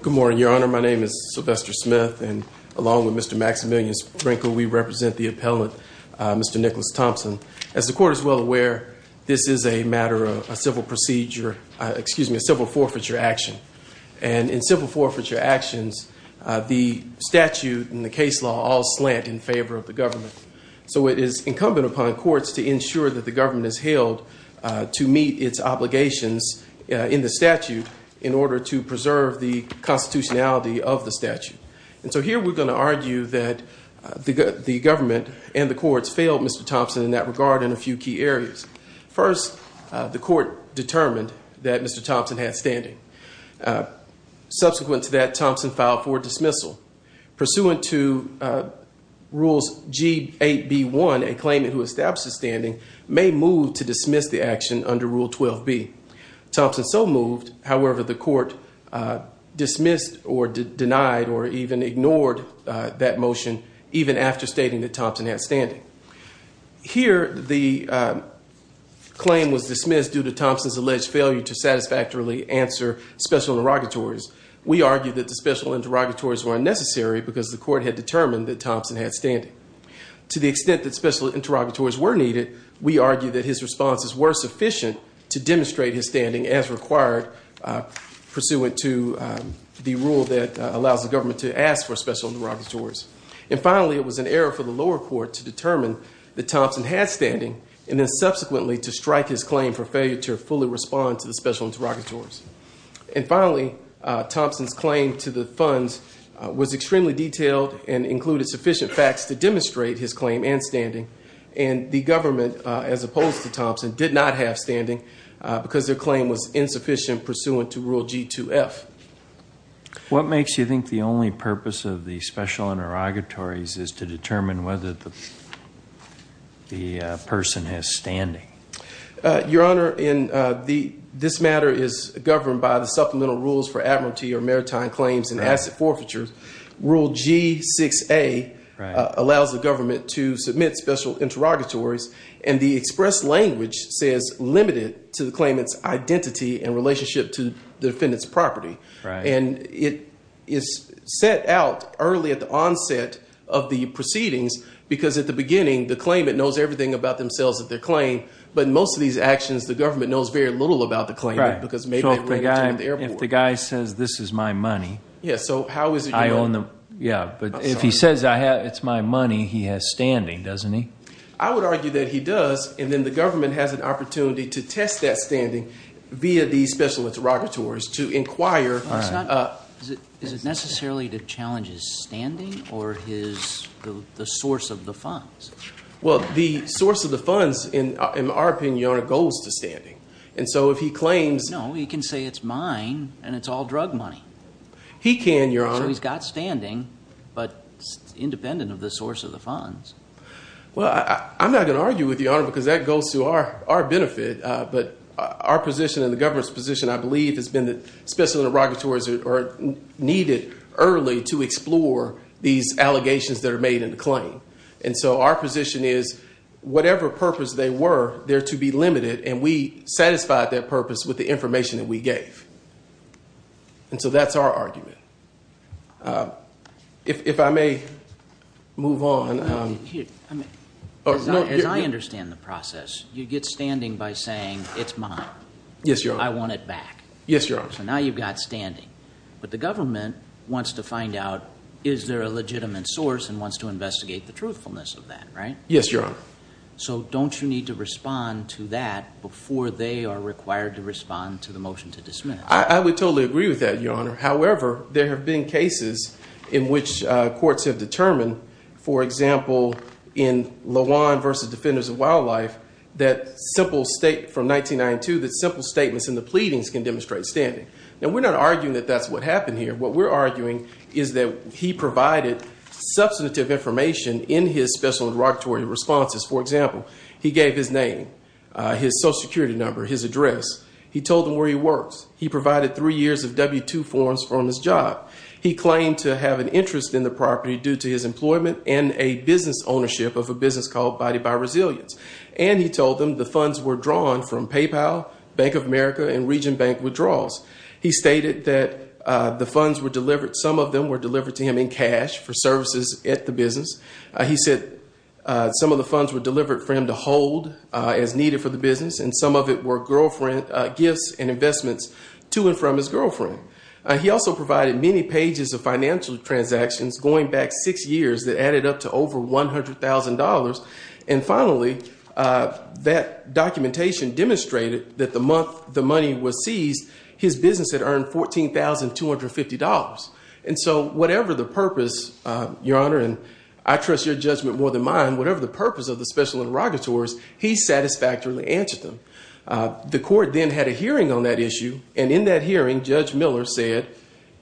Good morning, Your Honor. My name is Sylvester Smith, and along with Mr. Maximillian Sprinkle, we represent the appellant, Mr. Nikkolas Thompson. As the court is well aware, this is a matter of a civil procedure, excuse me, a civil forfeiture action. And in civil forfeiture actions, the statute and the case law all slant in favor of the government. So it is incumbent upon courts to ensure that the government is held to meet its obligations in the statute in order to preserve the constitutionality of the statute. And so here we're going to argue that the government and the courts failed Mr. Thompson in that regard in a few key areas. First, the court determined that Mr. Thompson had standing. Subsequent to that, Thompson filed for dismissal. Pursuant to Rules G8B1, a claimant who establishes standing may move to dismiss the action under Rule 12B. Thompson so moved. However, the court dismissed or denied or even ignored that motion, even after stating that Thompson had standing. Here, the claim was dismissed due to Thompson's alleged failure to satisfactorily answer special interrogatories. We argue that the special interrogatories were unnecessary because the court had determined that Thompson had standing. To the extent that special interrogatories were needed, we argue that his responses were sufficient to demonstrate his standing as required, pursuant to the rule that allows the government to ask for special interrogatories. And finally, it was an error for the lower court to determine that Thompson had standing and then subsequently to strike his claim for failure to fully respond to the special interrogatories. And finally, Thompson's claim to the funds was extremely detailed and included sufficient facts to demonstrate his claim and standing. And the government, as opposed to Thompson, did not have standing because their claim was insufficient pursuant to Rule G2F. What makes you think the only purpose of the special interrogatories is to determine whether the person has standing? Your Honor, in the this matter is governed by the supplemental rules for admiralty or maritime claims and asset forfeitures. Rule G6A allows the government to submit special interrogatories. And the express language says limited to the claimant's identity and relationship to the defendant's property. And it is set out early at the onset of the proceedings, because at the beginning, the claimant knows everything about themselves that their claim. But most of these actions, the government knows very little about the claim, because maybe the guy says, this is my money. Yeah. So how is it? I own them. Yeah. But if he says it's my money, he has standing, doesn't he? I would argue that he does. And then the government has an opportunity to test that standing via these special interrogatories to inquire. Is it necessarily the challenge is standing or is the source of the funds? Well, the source of the funds, in our opinion, goes to standing. And so if he claims. No, he can say it's mine and it's all drug money. He can. So he's got standing, but independent of the source of the funds. Well, I'm not going to argue with you, because that goes to our benefit. But our position and the government's position, I believe, has been that special interrogatories are needed early to explore these allegations that are made in the claim. And so our position is whatever purpose they were, they're to be limited. And we satisfied that purpose with the information that we gave. And so that's our argument. If I may move on. I mean, as I understand the process, you get standing by saying it's mine. Yes. I want it back. Yes. So now you've got standing. But the government wants to find out, is there a legitimate source and wants to investigate the truthfulness of that? Right. Yes, Your Honor. So don't you need to respond to that before they are required to respond to the motion to dismiss? I would totally agree with that, Your Honor. However, there have been cases in which courts have determined, for example, in Lawan versus Defenders of Wildlife, that simple state from 1992, that simple statements in the pleadings can demonstrate standing. Now, we're not arguing that that's what happened here. What we're arguing is that he provided substantive information in his special interrogatory responses. For example, he gave his name, his Social Security number, his address. He told them where he works. He provided three years of W-2 forms from his job. He claimed to have an interest in the property due to his employment and a business ownership of a business called Body by Resilience. And he told them the funds were drawn from PayPal, Bank of America, and Region Bank withdrawals. He stated that the funds were delivered. Some of them were delivered to him in cash for services at the business. He said some of the funds were delivered for him to hold as needed for the business, and some of it were girlfriend gifts and investments to and from his girlfriend. He also provided many pages of financial transactions going back six years that added up to over $100,000. And finally, that documentation demonstrated that the month the money was seized, his business had earned $14,250. And so whatever the purpose, Your Honor, and I trust your judgment more than mine, whatever the purpose of the special interrogatories, he satisfactorily answered them. The court then had a hearing on that issue, and in that hearing, Judge Miller said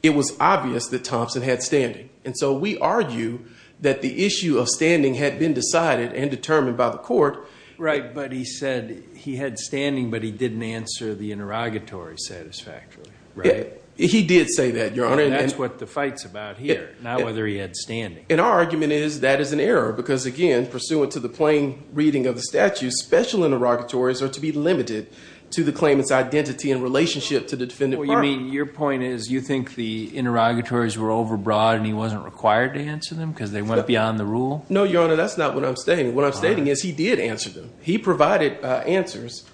it was obvious that Thompson had standing. And so we argue that the issue of standing had been decided and determined by the court. Right, but he said he had standing, but he didn't answer the interrogatory satisfactorily, right? He did say that, Your Honor. That's what the fight's about here, not whether he had standing. And our argument is that is an error because, again, pursuant to the plain reading of the statute, special interrogatories are to be limited to the claimant's identity and relationship to the defendant. You mean your point is you think the interrogatories were overbroad and he wasn't required to answer them because they went beyond the rule? No, Your Honor, that's not what I'm stating. What I'm stating is he did answer them. He provided answers.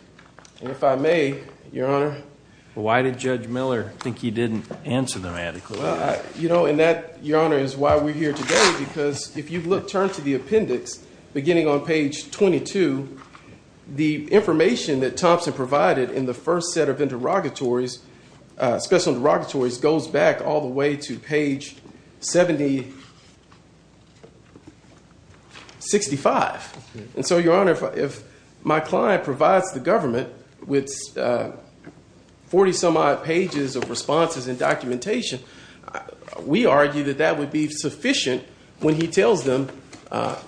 And if I may, Your Honor. Why did Judge Miller think he didn't answer them adequately? You know, and that, Your Honor, is why we're here today, because if you look, turn to the appendix beginning on page 22, the information that Thompson provided in the first set of interrogatories, special interrogatories, goes back all the way to page 7065. And so, Your Honor, if my client provides the government with 40-some-odd pages of responses and documentation, we argue that that would be sufficient when he tells them,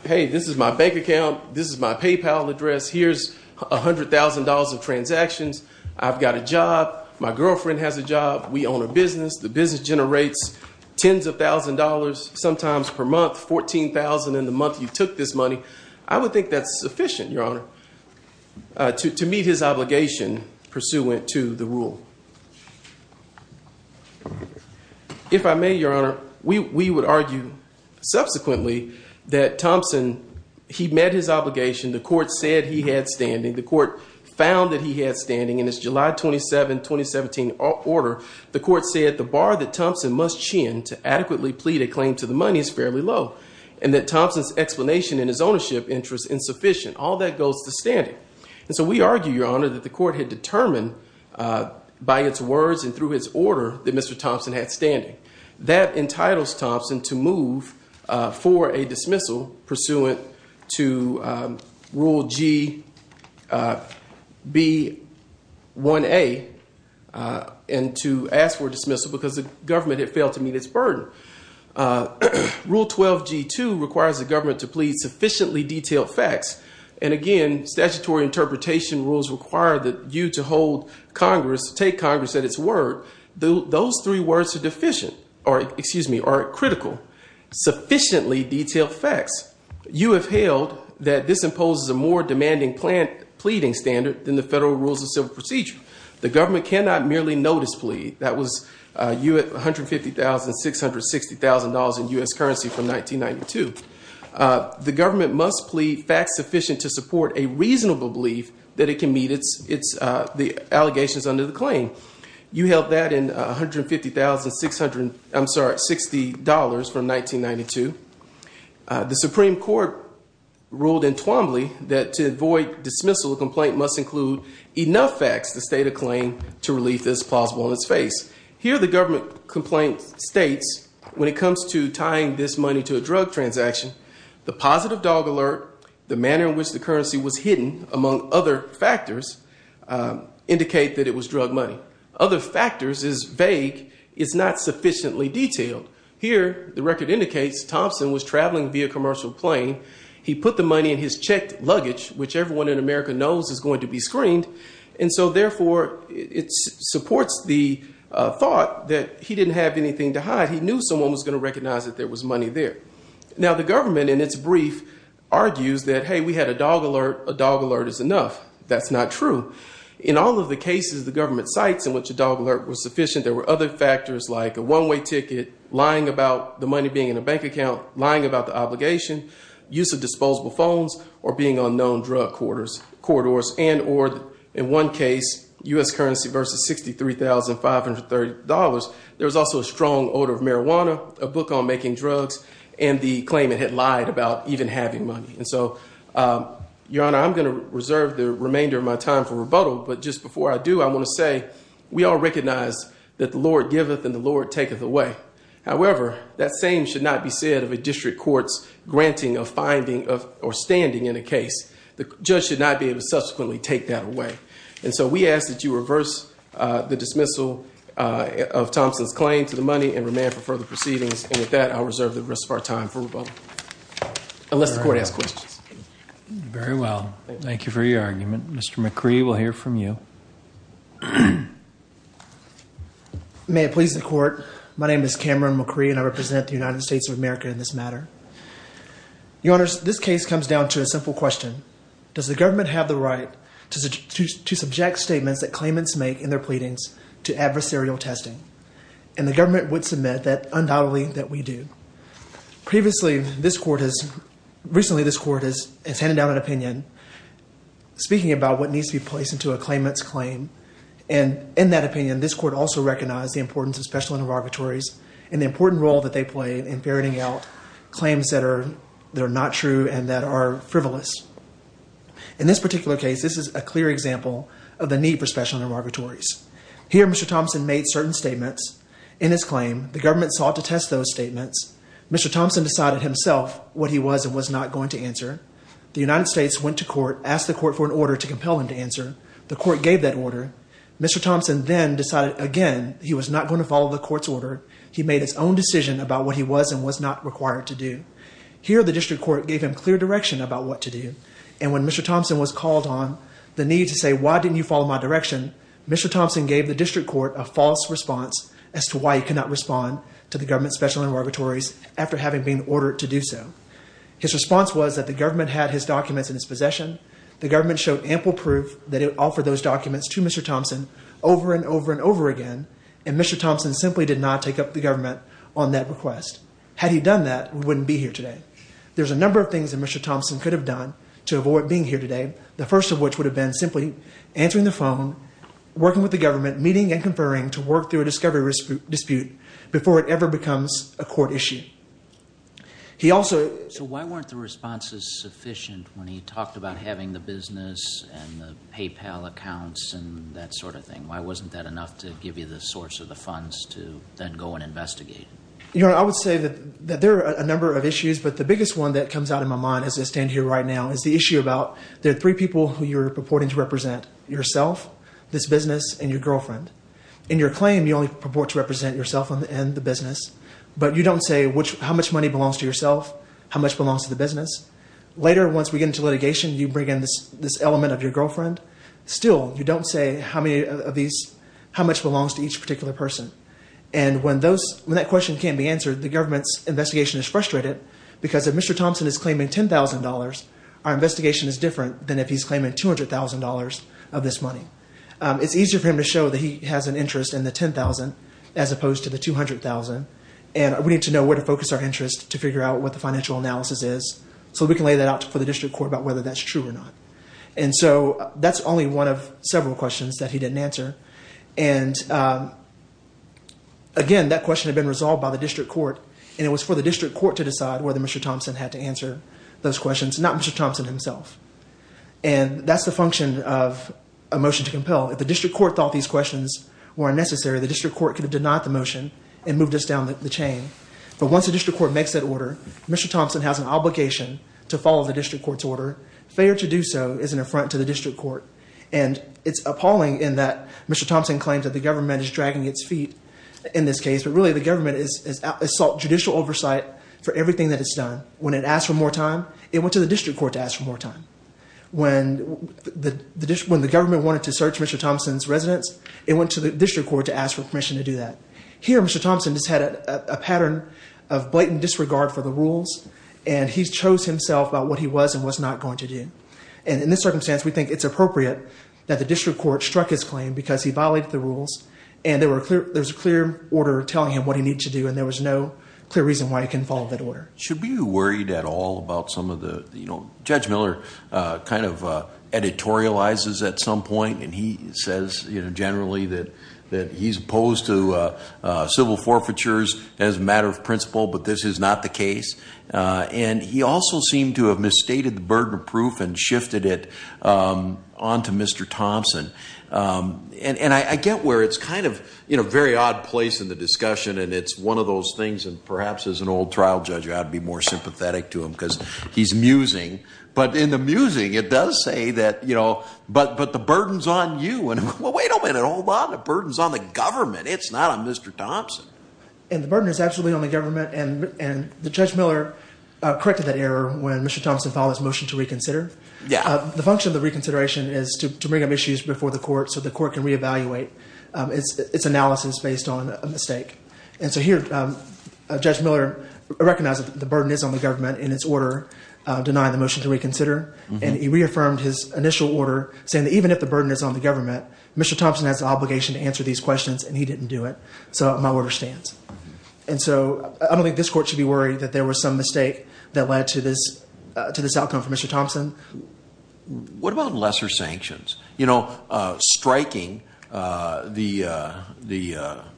hey, this is my bank account. This is my PayPal address. Here's $100,000 of transactions. I've got a job. My girlfriend has a job. We own a business. The business generates tens of thousands of dollars, sometimes per month, $14,000 in the month you took this money. I would think that's sufficient, Your Honor, to meet his obligation pursuant to the rule. If I may, Your Honor, we would argue subsequently that Thompson, he met his obligation. The court said he had standing. The court found that he had standing. In his July 27, 2017, order, the court said the bar that Thompson must chin to adequately plead a claim to the money is fairly low, and that Thompson's explanation in his ownership interest insufficient. All that goes to standing. And so we argue, Your Honor, that the court had determined by its words and through its order that Mr. Thompson had standing. That entitles Thompson to move for a dismissal pursuant to Rule G, B, 1A, and to ask for dismissal because the government had failed to meet its burden. Rule 12G2 requires the government to plead sufficiently detailed facts. And again, statutory interpretation rules require that you to hold Congress, take Congress at its word. Those three words are deficient, or excuse me, are critical. Sufficiently detailed facts. You have held that this imposes a more demanding pleading standard than the federal rules of civil procedure. The government cannot merely notice plead. That was $150,000, $660,000 in U.S. currency from 1992. The government must plead facts sufficient to support a reasonable belief that it can meet the allegations under the claim. You held that in $150,000, $660,000 from 1992. The Supreme Court ruled in Twombly that to avoid dismissal, a complaint must include enough facts to state a claim to relief as plausible in its face. Here the government complaint states when it comes to tying this money to a drug transaction, the positive dog alert, the manner in which the currency was hidden, among other factors, indicate that it was drug money. Other factors is vague. It's not sufficiently detailed. Here the record indicates Thompson was traveling via commercial plane. He put the money in his checked luggage, which everyone in America knows is going to be screened. And so therefore it supports the thought that he didn't have anything to hide. He knew someone was going to recognize that there was money there. Now the government in its brief argues that, hey, we had a dog alert. A dog alert is enough. That's not true. In all of the cases the government cites in which a dog alert was sufficient, there were other factors like a one way ticket, lying about the money being in a bank account, lying about the obligation, use of disposable phones or being on known drug quarters, corridors and or in one case U.S. currency versus $63,530. There was also a strong odor of marijuana, a book on making drugs and the claimant had lied about even having money. And so, Your Honor, I'm going to reserve the remainder of my time for rebuttal. But just before I do, I want to say we all recognize that the Lord giveth and the Lord taketh away. However, that same should not be said of a district court's granting of finding or standing in a case. The judge should not be able to subsequently take that away. And so we ask that you reverse the dismissal. Of Thompson's claim to the money and remand for further proceedings. And with that, I'll reserve the rest of our time for rebuttal unless the court has questions. Very well. Thank you for your argument. Mr. McCree will hear from you. May it please the court. My name is Cameron McCree and I represent the United States of America in this matter. Your Honor, this case comes down to a simple question. Does the government have the right to subject statements that claimants make in their pleadings to adversarial testing? And the government would submit that undoubtedly that we do. Previously, this court has, recently this court has handed down an opinion. Speaking about what needs to be placed into a claimant's claim. And in that opinion, this court also recognized the importance of special interrogatories and the important role that they play in ferreting out claims that are not true and that are frivolous. In this particular case, this is a clear example of the need for special interrogatories. Here, Mr. Thompson made certain statements in his claim. The government sought to test those statements. Mr. Thompson decided himself what he was and was not going to answer. The United States went to court, asked the court for an order to compel him to answer. The court gave that order. Mr. Thompson then decided again he was not going to follow the court's order. He made his own decision about what he was and was not required to do. Here, the district court gave him clear direction about what to do. And when Mr. Thompson was called on, the need to say, why didn't you follow my direction, Mr. Thompson gave the district court a false response as to why he could not respond to the government's special interrogatories after having been ordered to do so. His response was that the government had his documents in his possession. The government showed ample proof that it offered those documents to Mr. Thompson over and over and over again, and Mr. Thompson simply did not take up the government on that request. Had he done that, we wouldn't be here today. There's a number of things that Mr. Thompson could have done to avoid being here today, the first of which would have been simply answering the phone, working with the government, meeting and conferring to work through a discovery dispute before it ever becomes a court issue. So why weren't the responses sufficient when he talked about having the business and the PayPal accounts and that sort of thing? Why wasn't that enough to give you the source of the funds to then go and investigate? I would say that there are a number of issues, but the biggest one that comes out in my mind as I stand here right now is the issue about there are three people who you're purporting to represent, yourself, this business, and your girlfriend. In your claim, you only purport to represent yourself and the business, but you don't say how much money belongs to yourself, how much belongs to the business. Later, once we get into litigation, you bring in this element of your girlfriend. Still, you don't say how much belongs to each particular person. And when that question can't be answered, the government's investigation is frustrated because if Mr. Thompson is claiming $10,000, our investigation is different than if he's claiming $200,000 of this money. It's easier for him to show that he has an interest in the $10,000 as opposed to the $200,000, and we need to know where to focus our interest to figure out what the financial analysis is so we can lay that out for the district court about whether that's true or not. And so that's only one of several questions that he didn't answer. And again, that question had been resolved by the district court, and it was for the district court to decide whether Mr. Thompson had to answer those questions, not Mr. Thompson himself. And that's the function of a motion to compel. If the district court thought these questions were unnecessary, the district court could have denied the motion and moved us down the chain. But once the district court makes that order, Mr. Thompson has an obligation to follow the district court's order. Failure to do so is an affront to the district court. And it's appalling in that Mr. Thompson claims that the government is dragging its feet in this case, but really the government has sought judicial oversight for everything that it's done. When it asked for more time, it went to the district court to ask for more time. When the government wanted to search Mr. Thompson's residence, it went to the district court to ask for permission to do that. Here, Mr. Thompson just had a pattern of blatant disregard for the rules, and he chose himself about what he was and was not going to do. And in this circumstance, we think it's appropriate that the district court struck his claim because he violated the rules, and there was a clear order telling him what he needed to do, and there was no clear reason why he couldn't follow that order. Should we be worried at all about some of the, you know, Judge Miller kind of editorializes at some point, and he says, you know, generally that he's opposed to civil forfeitures as a matter of principle, but this is not the case. And he also seemed to have misstated the burden of proof and shifted it on to Mr. Thompson. And I get where it's kind of in a very odd place in the discussion, and it's one of those things that perhaps as an old trial judge I ought to be more sympathetic to him because he's musing. But in the musing, it does say that, you know, but the burden's on you. And, well, wait a minute. Hold on. The burden's on the government. It's not on Mr. Thompson. And the burden is absolutely on the government, and Judge Miller corrected that error when Mr. Thompson filed his motion to reconsider. Yeah. The function of the reconsideration is to bring up issues before the court so the court can reevaluate its analysis based on a mistake. And so here Judge Miller recognized that the burden is on the government in its order denying the motion to reconsider, and he reaffirmed his initial order saying that even if the burden is on the government, Mr. Thompson has the obligation to answer these questions, and he didn't do it. So my order stands. And so I don't think this court should be worried that there was some mistake that led to this outcome for Mr. Thompson. What about lesser sanctions? You know, striking the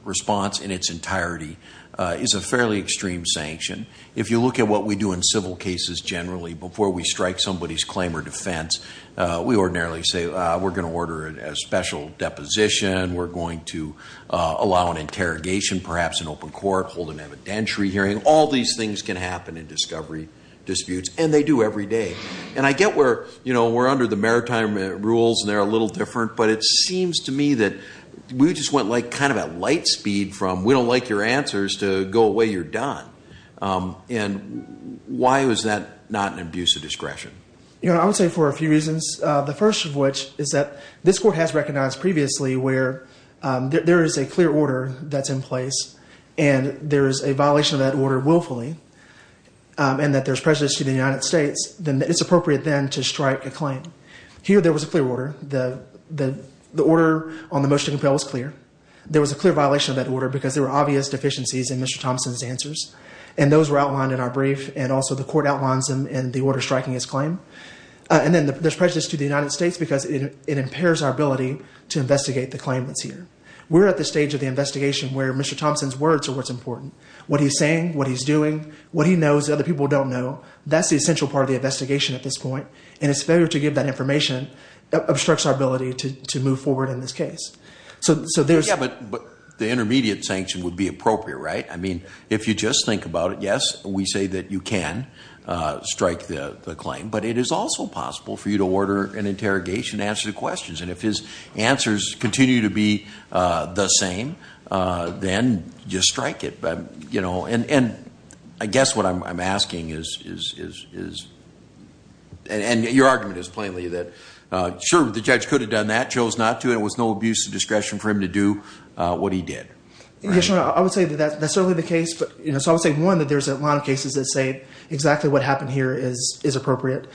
response in its entirety is a fairly extreme sanction. If you look at what we do in civil cases generally before we strike somebody's claim or defense, we ordinarily say we're going to order a special deposition, we're going to allow an interrogation perhaps in open court, hold an evidentiary hearing. All these things can happen in discovery disputes, and they do every day. And I get we're under the maritime rules and they're a little different, but it seems to me that we just went kind of at light speed from we don't like your answers to go away, you're done. And why was that not an abuse of discretion? I would say for a few reasons, the first of which is that this court has recognized previously where there is a clear order that's in place and there is a violation of that order willfully and that there's prejudice to the United States, then it's appropriate then to strike a claim. Here there was a clear order. The order on the motion to compel was clear. There was a clear violation of that order because there were obvious deficiencies in Mr. Thompson's answers, and those were outlined in our brief, and also the court outlines them in the order striking his claim. And then there's prejudice to the United States because it impairs our ability to investigate the claim that's here. We're at the stage of the investigation where Mr. Thompson's words are what's important. What he's saying, what he's doing, what he knows that other people don't know, that's the essential part of the investigation at this point, and his failure to give that information obstructs our ability to move forward in this case. But the intermediate sanction would be appropriate, right? I mean, if you just think about it, yes, we say that you can strike the claim, but it is also possible for you to order an interrogation to answer the questions, and if his answers continue to be the same, then just strike it. And I guess what I'm asking is, and your argument is plainly that, sure, the judge could have done that, chose not to, and it was no abuse of discretion for him to do what he did. Yes, Your Honor, I would say that that's certainly the case. So I would say, one, that there's a lot of cases that say exactly what happened here is appropriate.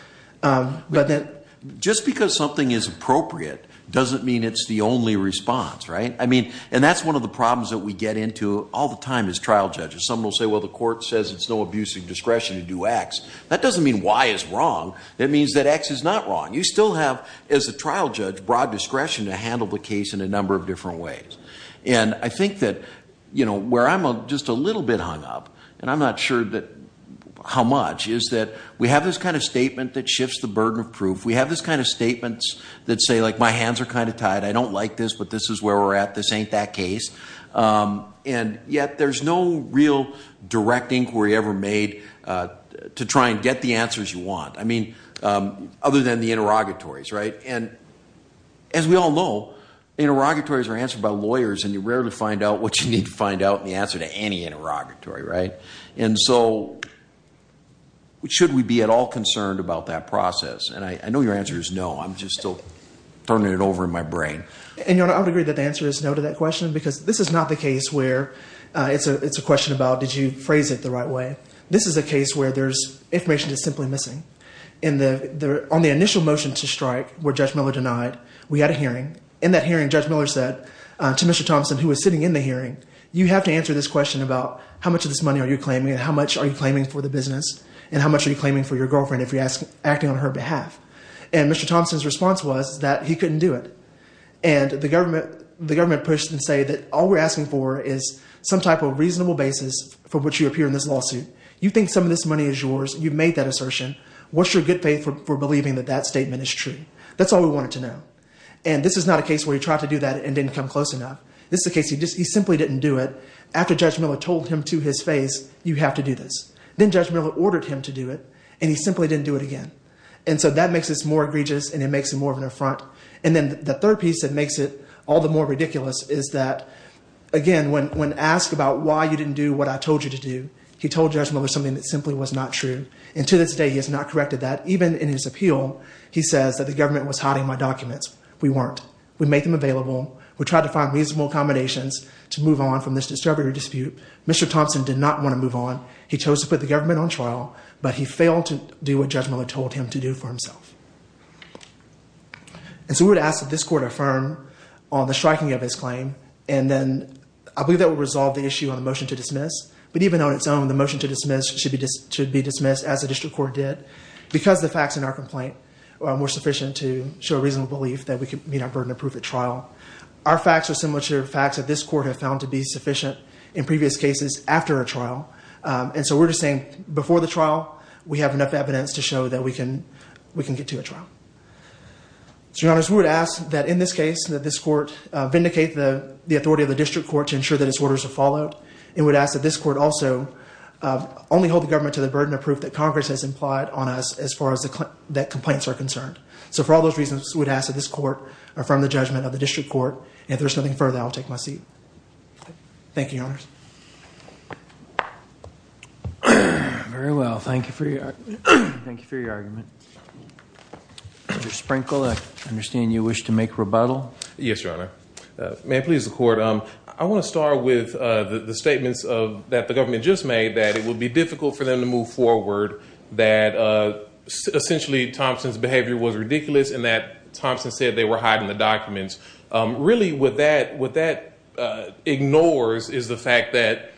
Just because something is appropriate doesn't mean it's the only response, right? I mean, and that's one of the problems that we get into all the time as trial judges. Some will say, well, the court says it's no abuse of discretion to do X. That doesn't mean Y is wrong. That means that X is not wrong. You still have, as a trial judge, broad discretion to handle the case in a number of different ways. And I think that where I'm just a little bit hung up, and I'm not sure how much, is that we have this kind of statement that shifts the burden of proof. We have this kind of statements that say, like, my hands are kind of tied. I don't like this, but this is where we're at. This ain't that case. And yet there's no real direct inquiry ever made to try and get the answers you want. I mean, other than the interrogatories, right? And as we all know, interrogatories are answered by lawyers, and you rarely find out what you need to find out in the answer to any interrogatory, right? And so should we be at all concerned about that process? And I know your answer is no. I'm just still turning it over in my brain. And, Your Honor, I would agree that the answer is no to that question because this is not the case where it's a question about did you phrase it the right way. This is a case where there's information that's simply missing. On the initial motion to strike where Judge Miller denied, we had a hearing. In that hearing, Judge Miller said to Mr. Thompson, who was sitting in the hearing, you have to answer this question about how much of this money are you claiming and how much are you claiming for the business and how much are you claiming for your girlfriend if you're acting on her behalf. And Mr. Thompson's response was that he couldn't do it. And the government pushed and said that all we're asking for is some type of reasonable basis for which you appear in this lawsuit. You think some of this money is yours. You've made that assertion. What's your good faith for believing that that statement is true? That's all we wanted to know. And this is not a case where he tried to do that and didn't come close enough. This is a case he simply didn't do it. After Judge Miller told him to his face, you have to do this. Then Judge Miller ordered him to do it, and he simply didn't do it again. And so that makes this more egregious and it makes it more of an affront. And then the third piece that makes it all the more ridiculous is that, again, when asked about why you didn't do what I told you to do, he told Judge Miller something that simply was not true. And to this day, he has not corrected that. Even in his appeal, he says that the government was hiding my documents. We weren't. We made them available. We tried to find reasonable accommodations to move on from this distributary dispute. Mr. Thompson did not want to move on. He chose to put the government on trial, but he failed to do what Judge Miller told him to do for himself. And so we would ask that this court affirm on the striking of his claim. And then I believe that will resolve the issue on the motion to dismiss. But even on its own, the motion to dismiss should be dismissed, as the district court did, because the facts in our complaint were sufficient to show a reasonable belief that we could meet our burden of proof at trial. Our facts are similar to the facts that this court have found to be sufficient in previous cases after a trial. And so we're just saying before the trial, we have enough evidence to show that we can get to a trial. So, Your Honors, we would ask that in this case, that this court vindicate the authority of the district court to ensure that its orders are followed. And we would ask that this court also only hold the government to the burden of proof that Congress has implied on us as far as the complaints are concerned. So for all those reasons, we would ask that this court affirm the judgment of the district court. And if there's nothing further, I'll take my seat. Thank you, Your Honors. Very well. Thank you for your argument. Mr. Sprinkle, I understand you wish to make rebuttal. Yes, Your Honor. May I please, the Court? I want to start with the statements that the government just made, that it would be difficult for them to move forward, that essentially Thompson's behavior was ridiculous, and that Thompson said they were hiding the documents. Really, what that ignores is the fact that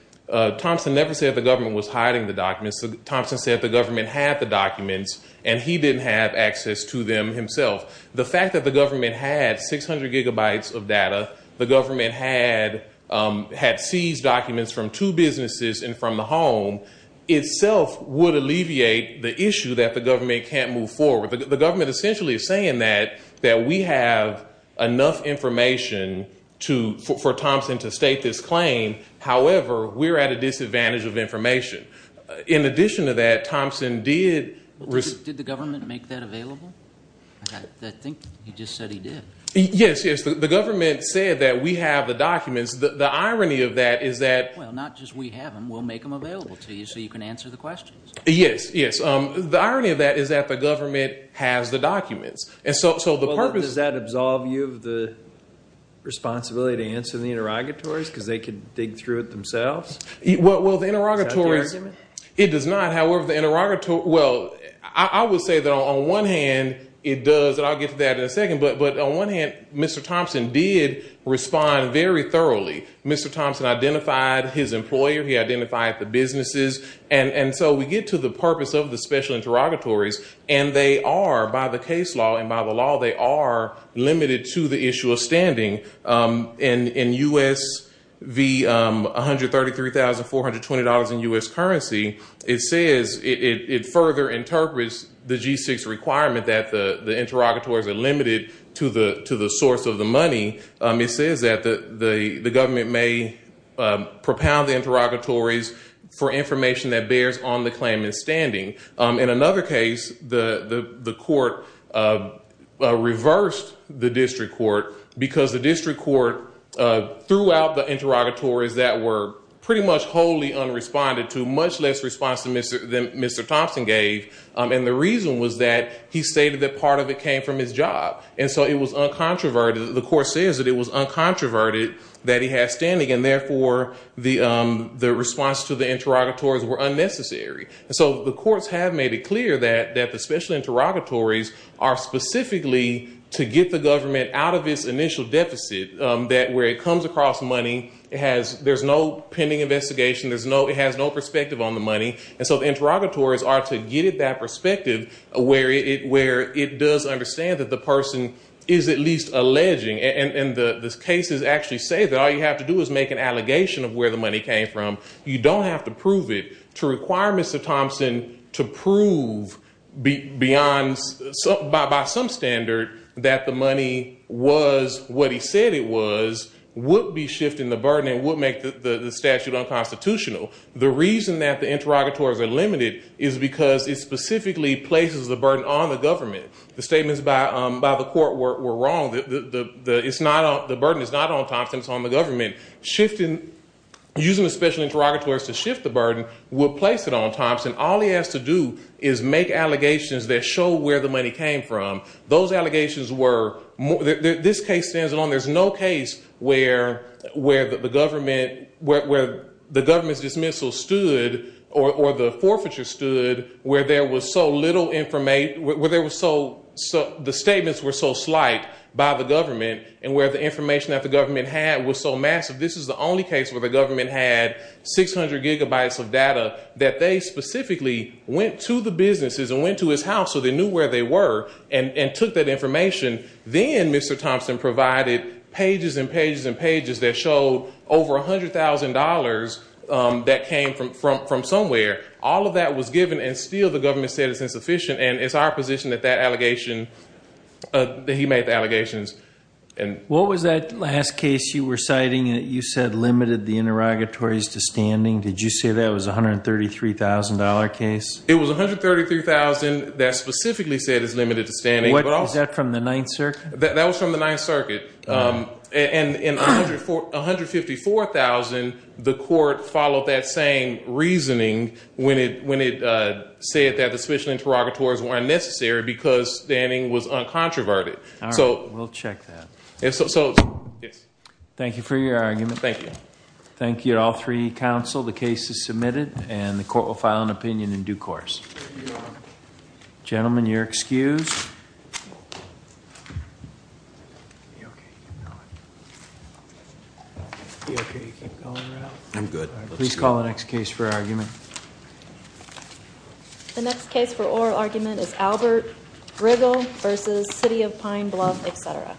Thompson never said the government was hiding the documents. Thompson said the government had the documents, and he didn't have access to them himself. The fact that the government had 600 gigabytes of data, the government had seized documents from two businesses and from the home, itself would alleviate the issue that the government can't move forward. The government essentially is saying that we have enough information for Thompson to state this claim. However, we're at a disadvantage of information. In addition to that, Thompson did receive- Did the government make that available? I think he just said he did. Yes, yes. The government said that we have the documents. The irony of that is that- Well, not just we have them. We'll make them available to you so you can answer the questions. Yes, yes. The irony of that is that the government has the documents. Does that absolve you of the responsibility to answer the interrogatories because they could dig through it themselves? Well, the interrogatories- Is that the argument? It does not. However, the interrogatories- Well, I would say that on one hand, it does, and I'll get to that in a second, but on one hand, Mr. Thompson did respond very thoroughly. Mr. Thompson identified his employer. He identified the businesses. And so we get to the purpose of the special interrogatories, and they are, by the case law and by the law, they are limited to the issue of standing. In U.S. v. $133,420 in U.S. currency, it says it further interprets the G-6 requirement that the interrogatories are limited to the source of the money. It says that the government may propound the interrogatories for information that bears on the claimant's standing. In another case, the court reversed the district court because the district court threw out the interrogatories that were pretty much wholly unresponded to, much less response than Mr. Thompson gave. And the reason was that he stated that part of it came from his job. And so it was uncontroverted. The court says that it was uncontroverted that he had standing, and therefore the response to the interrogatories were unnecessary. And so the courts have made it clear that the special interrogatories are specifically to get the government out of its initial deficit, that where it comes across money, there's no pending investigation, it has no perspective on the money. And so the interrogatories are to get at that perspective where it does understand that the person is at least alleging. And the cases actually say that all you have to do is make an allegation of where the money came from. You don't have to prove it. To require Mr. Thompson to prove by some standard that the money was what he said it was would be shifting the burden and would make the statute unconstitutional. The reason that the interrogatories are limited is because it specifically places the burden on the government. The statements by the court were wrong. The burden is not on Thompson, it's on the government. Using the special interrogatories to shift the burden would place it on Thompson. All he has to do is make allegations that show where the money came from. This case stands alone. There's no case where the government's dismissal stood or the forfeiture stood where there was so little information, the statements were so slight by the government and where the information that the government had was so massive. This is the only case where the government had 600 gigabytes of data that they specifically went to the businesses and went to his house so they knew where they were and took that information. Then Mr. Thompson provided pages and pages and pages that showed over $100,000 that came from somewhere. All of that was given and still the government said it's insufficient. It's our position that he made the allegations. What was that last case you were citing that you said limited the interrogatories to standing? Did you say that was a $133,000 case? It was $133,000 that specifically said it's limited to standing. Is that from the Ninth Circuit? That was from the Ninth Circuit. In $154,000, the court followed that same reasoning when it said that the special interrogatories weren't necessary because standing was uncontroverted. We'll check that. Thank you for your argument. Thank you. Thank you to all three counsel. The case is submitted and the court will file an opinion in due course. Gentlemen, you're excused. Please call the next case for argument. The next case for oral argument is Albert Briggle v. City of Pine Bluff, etc. Thank you.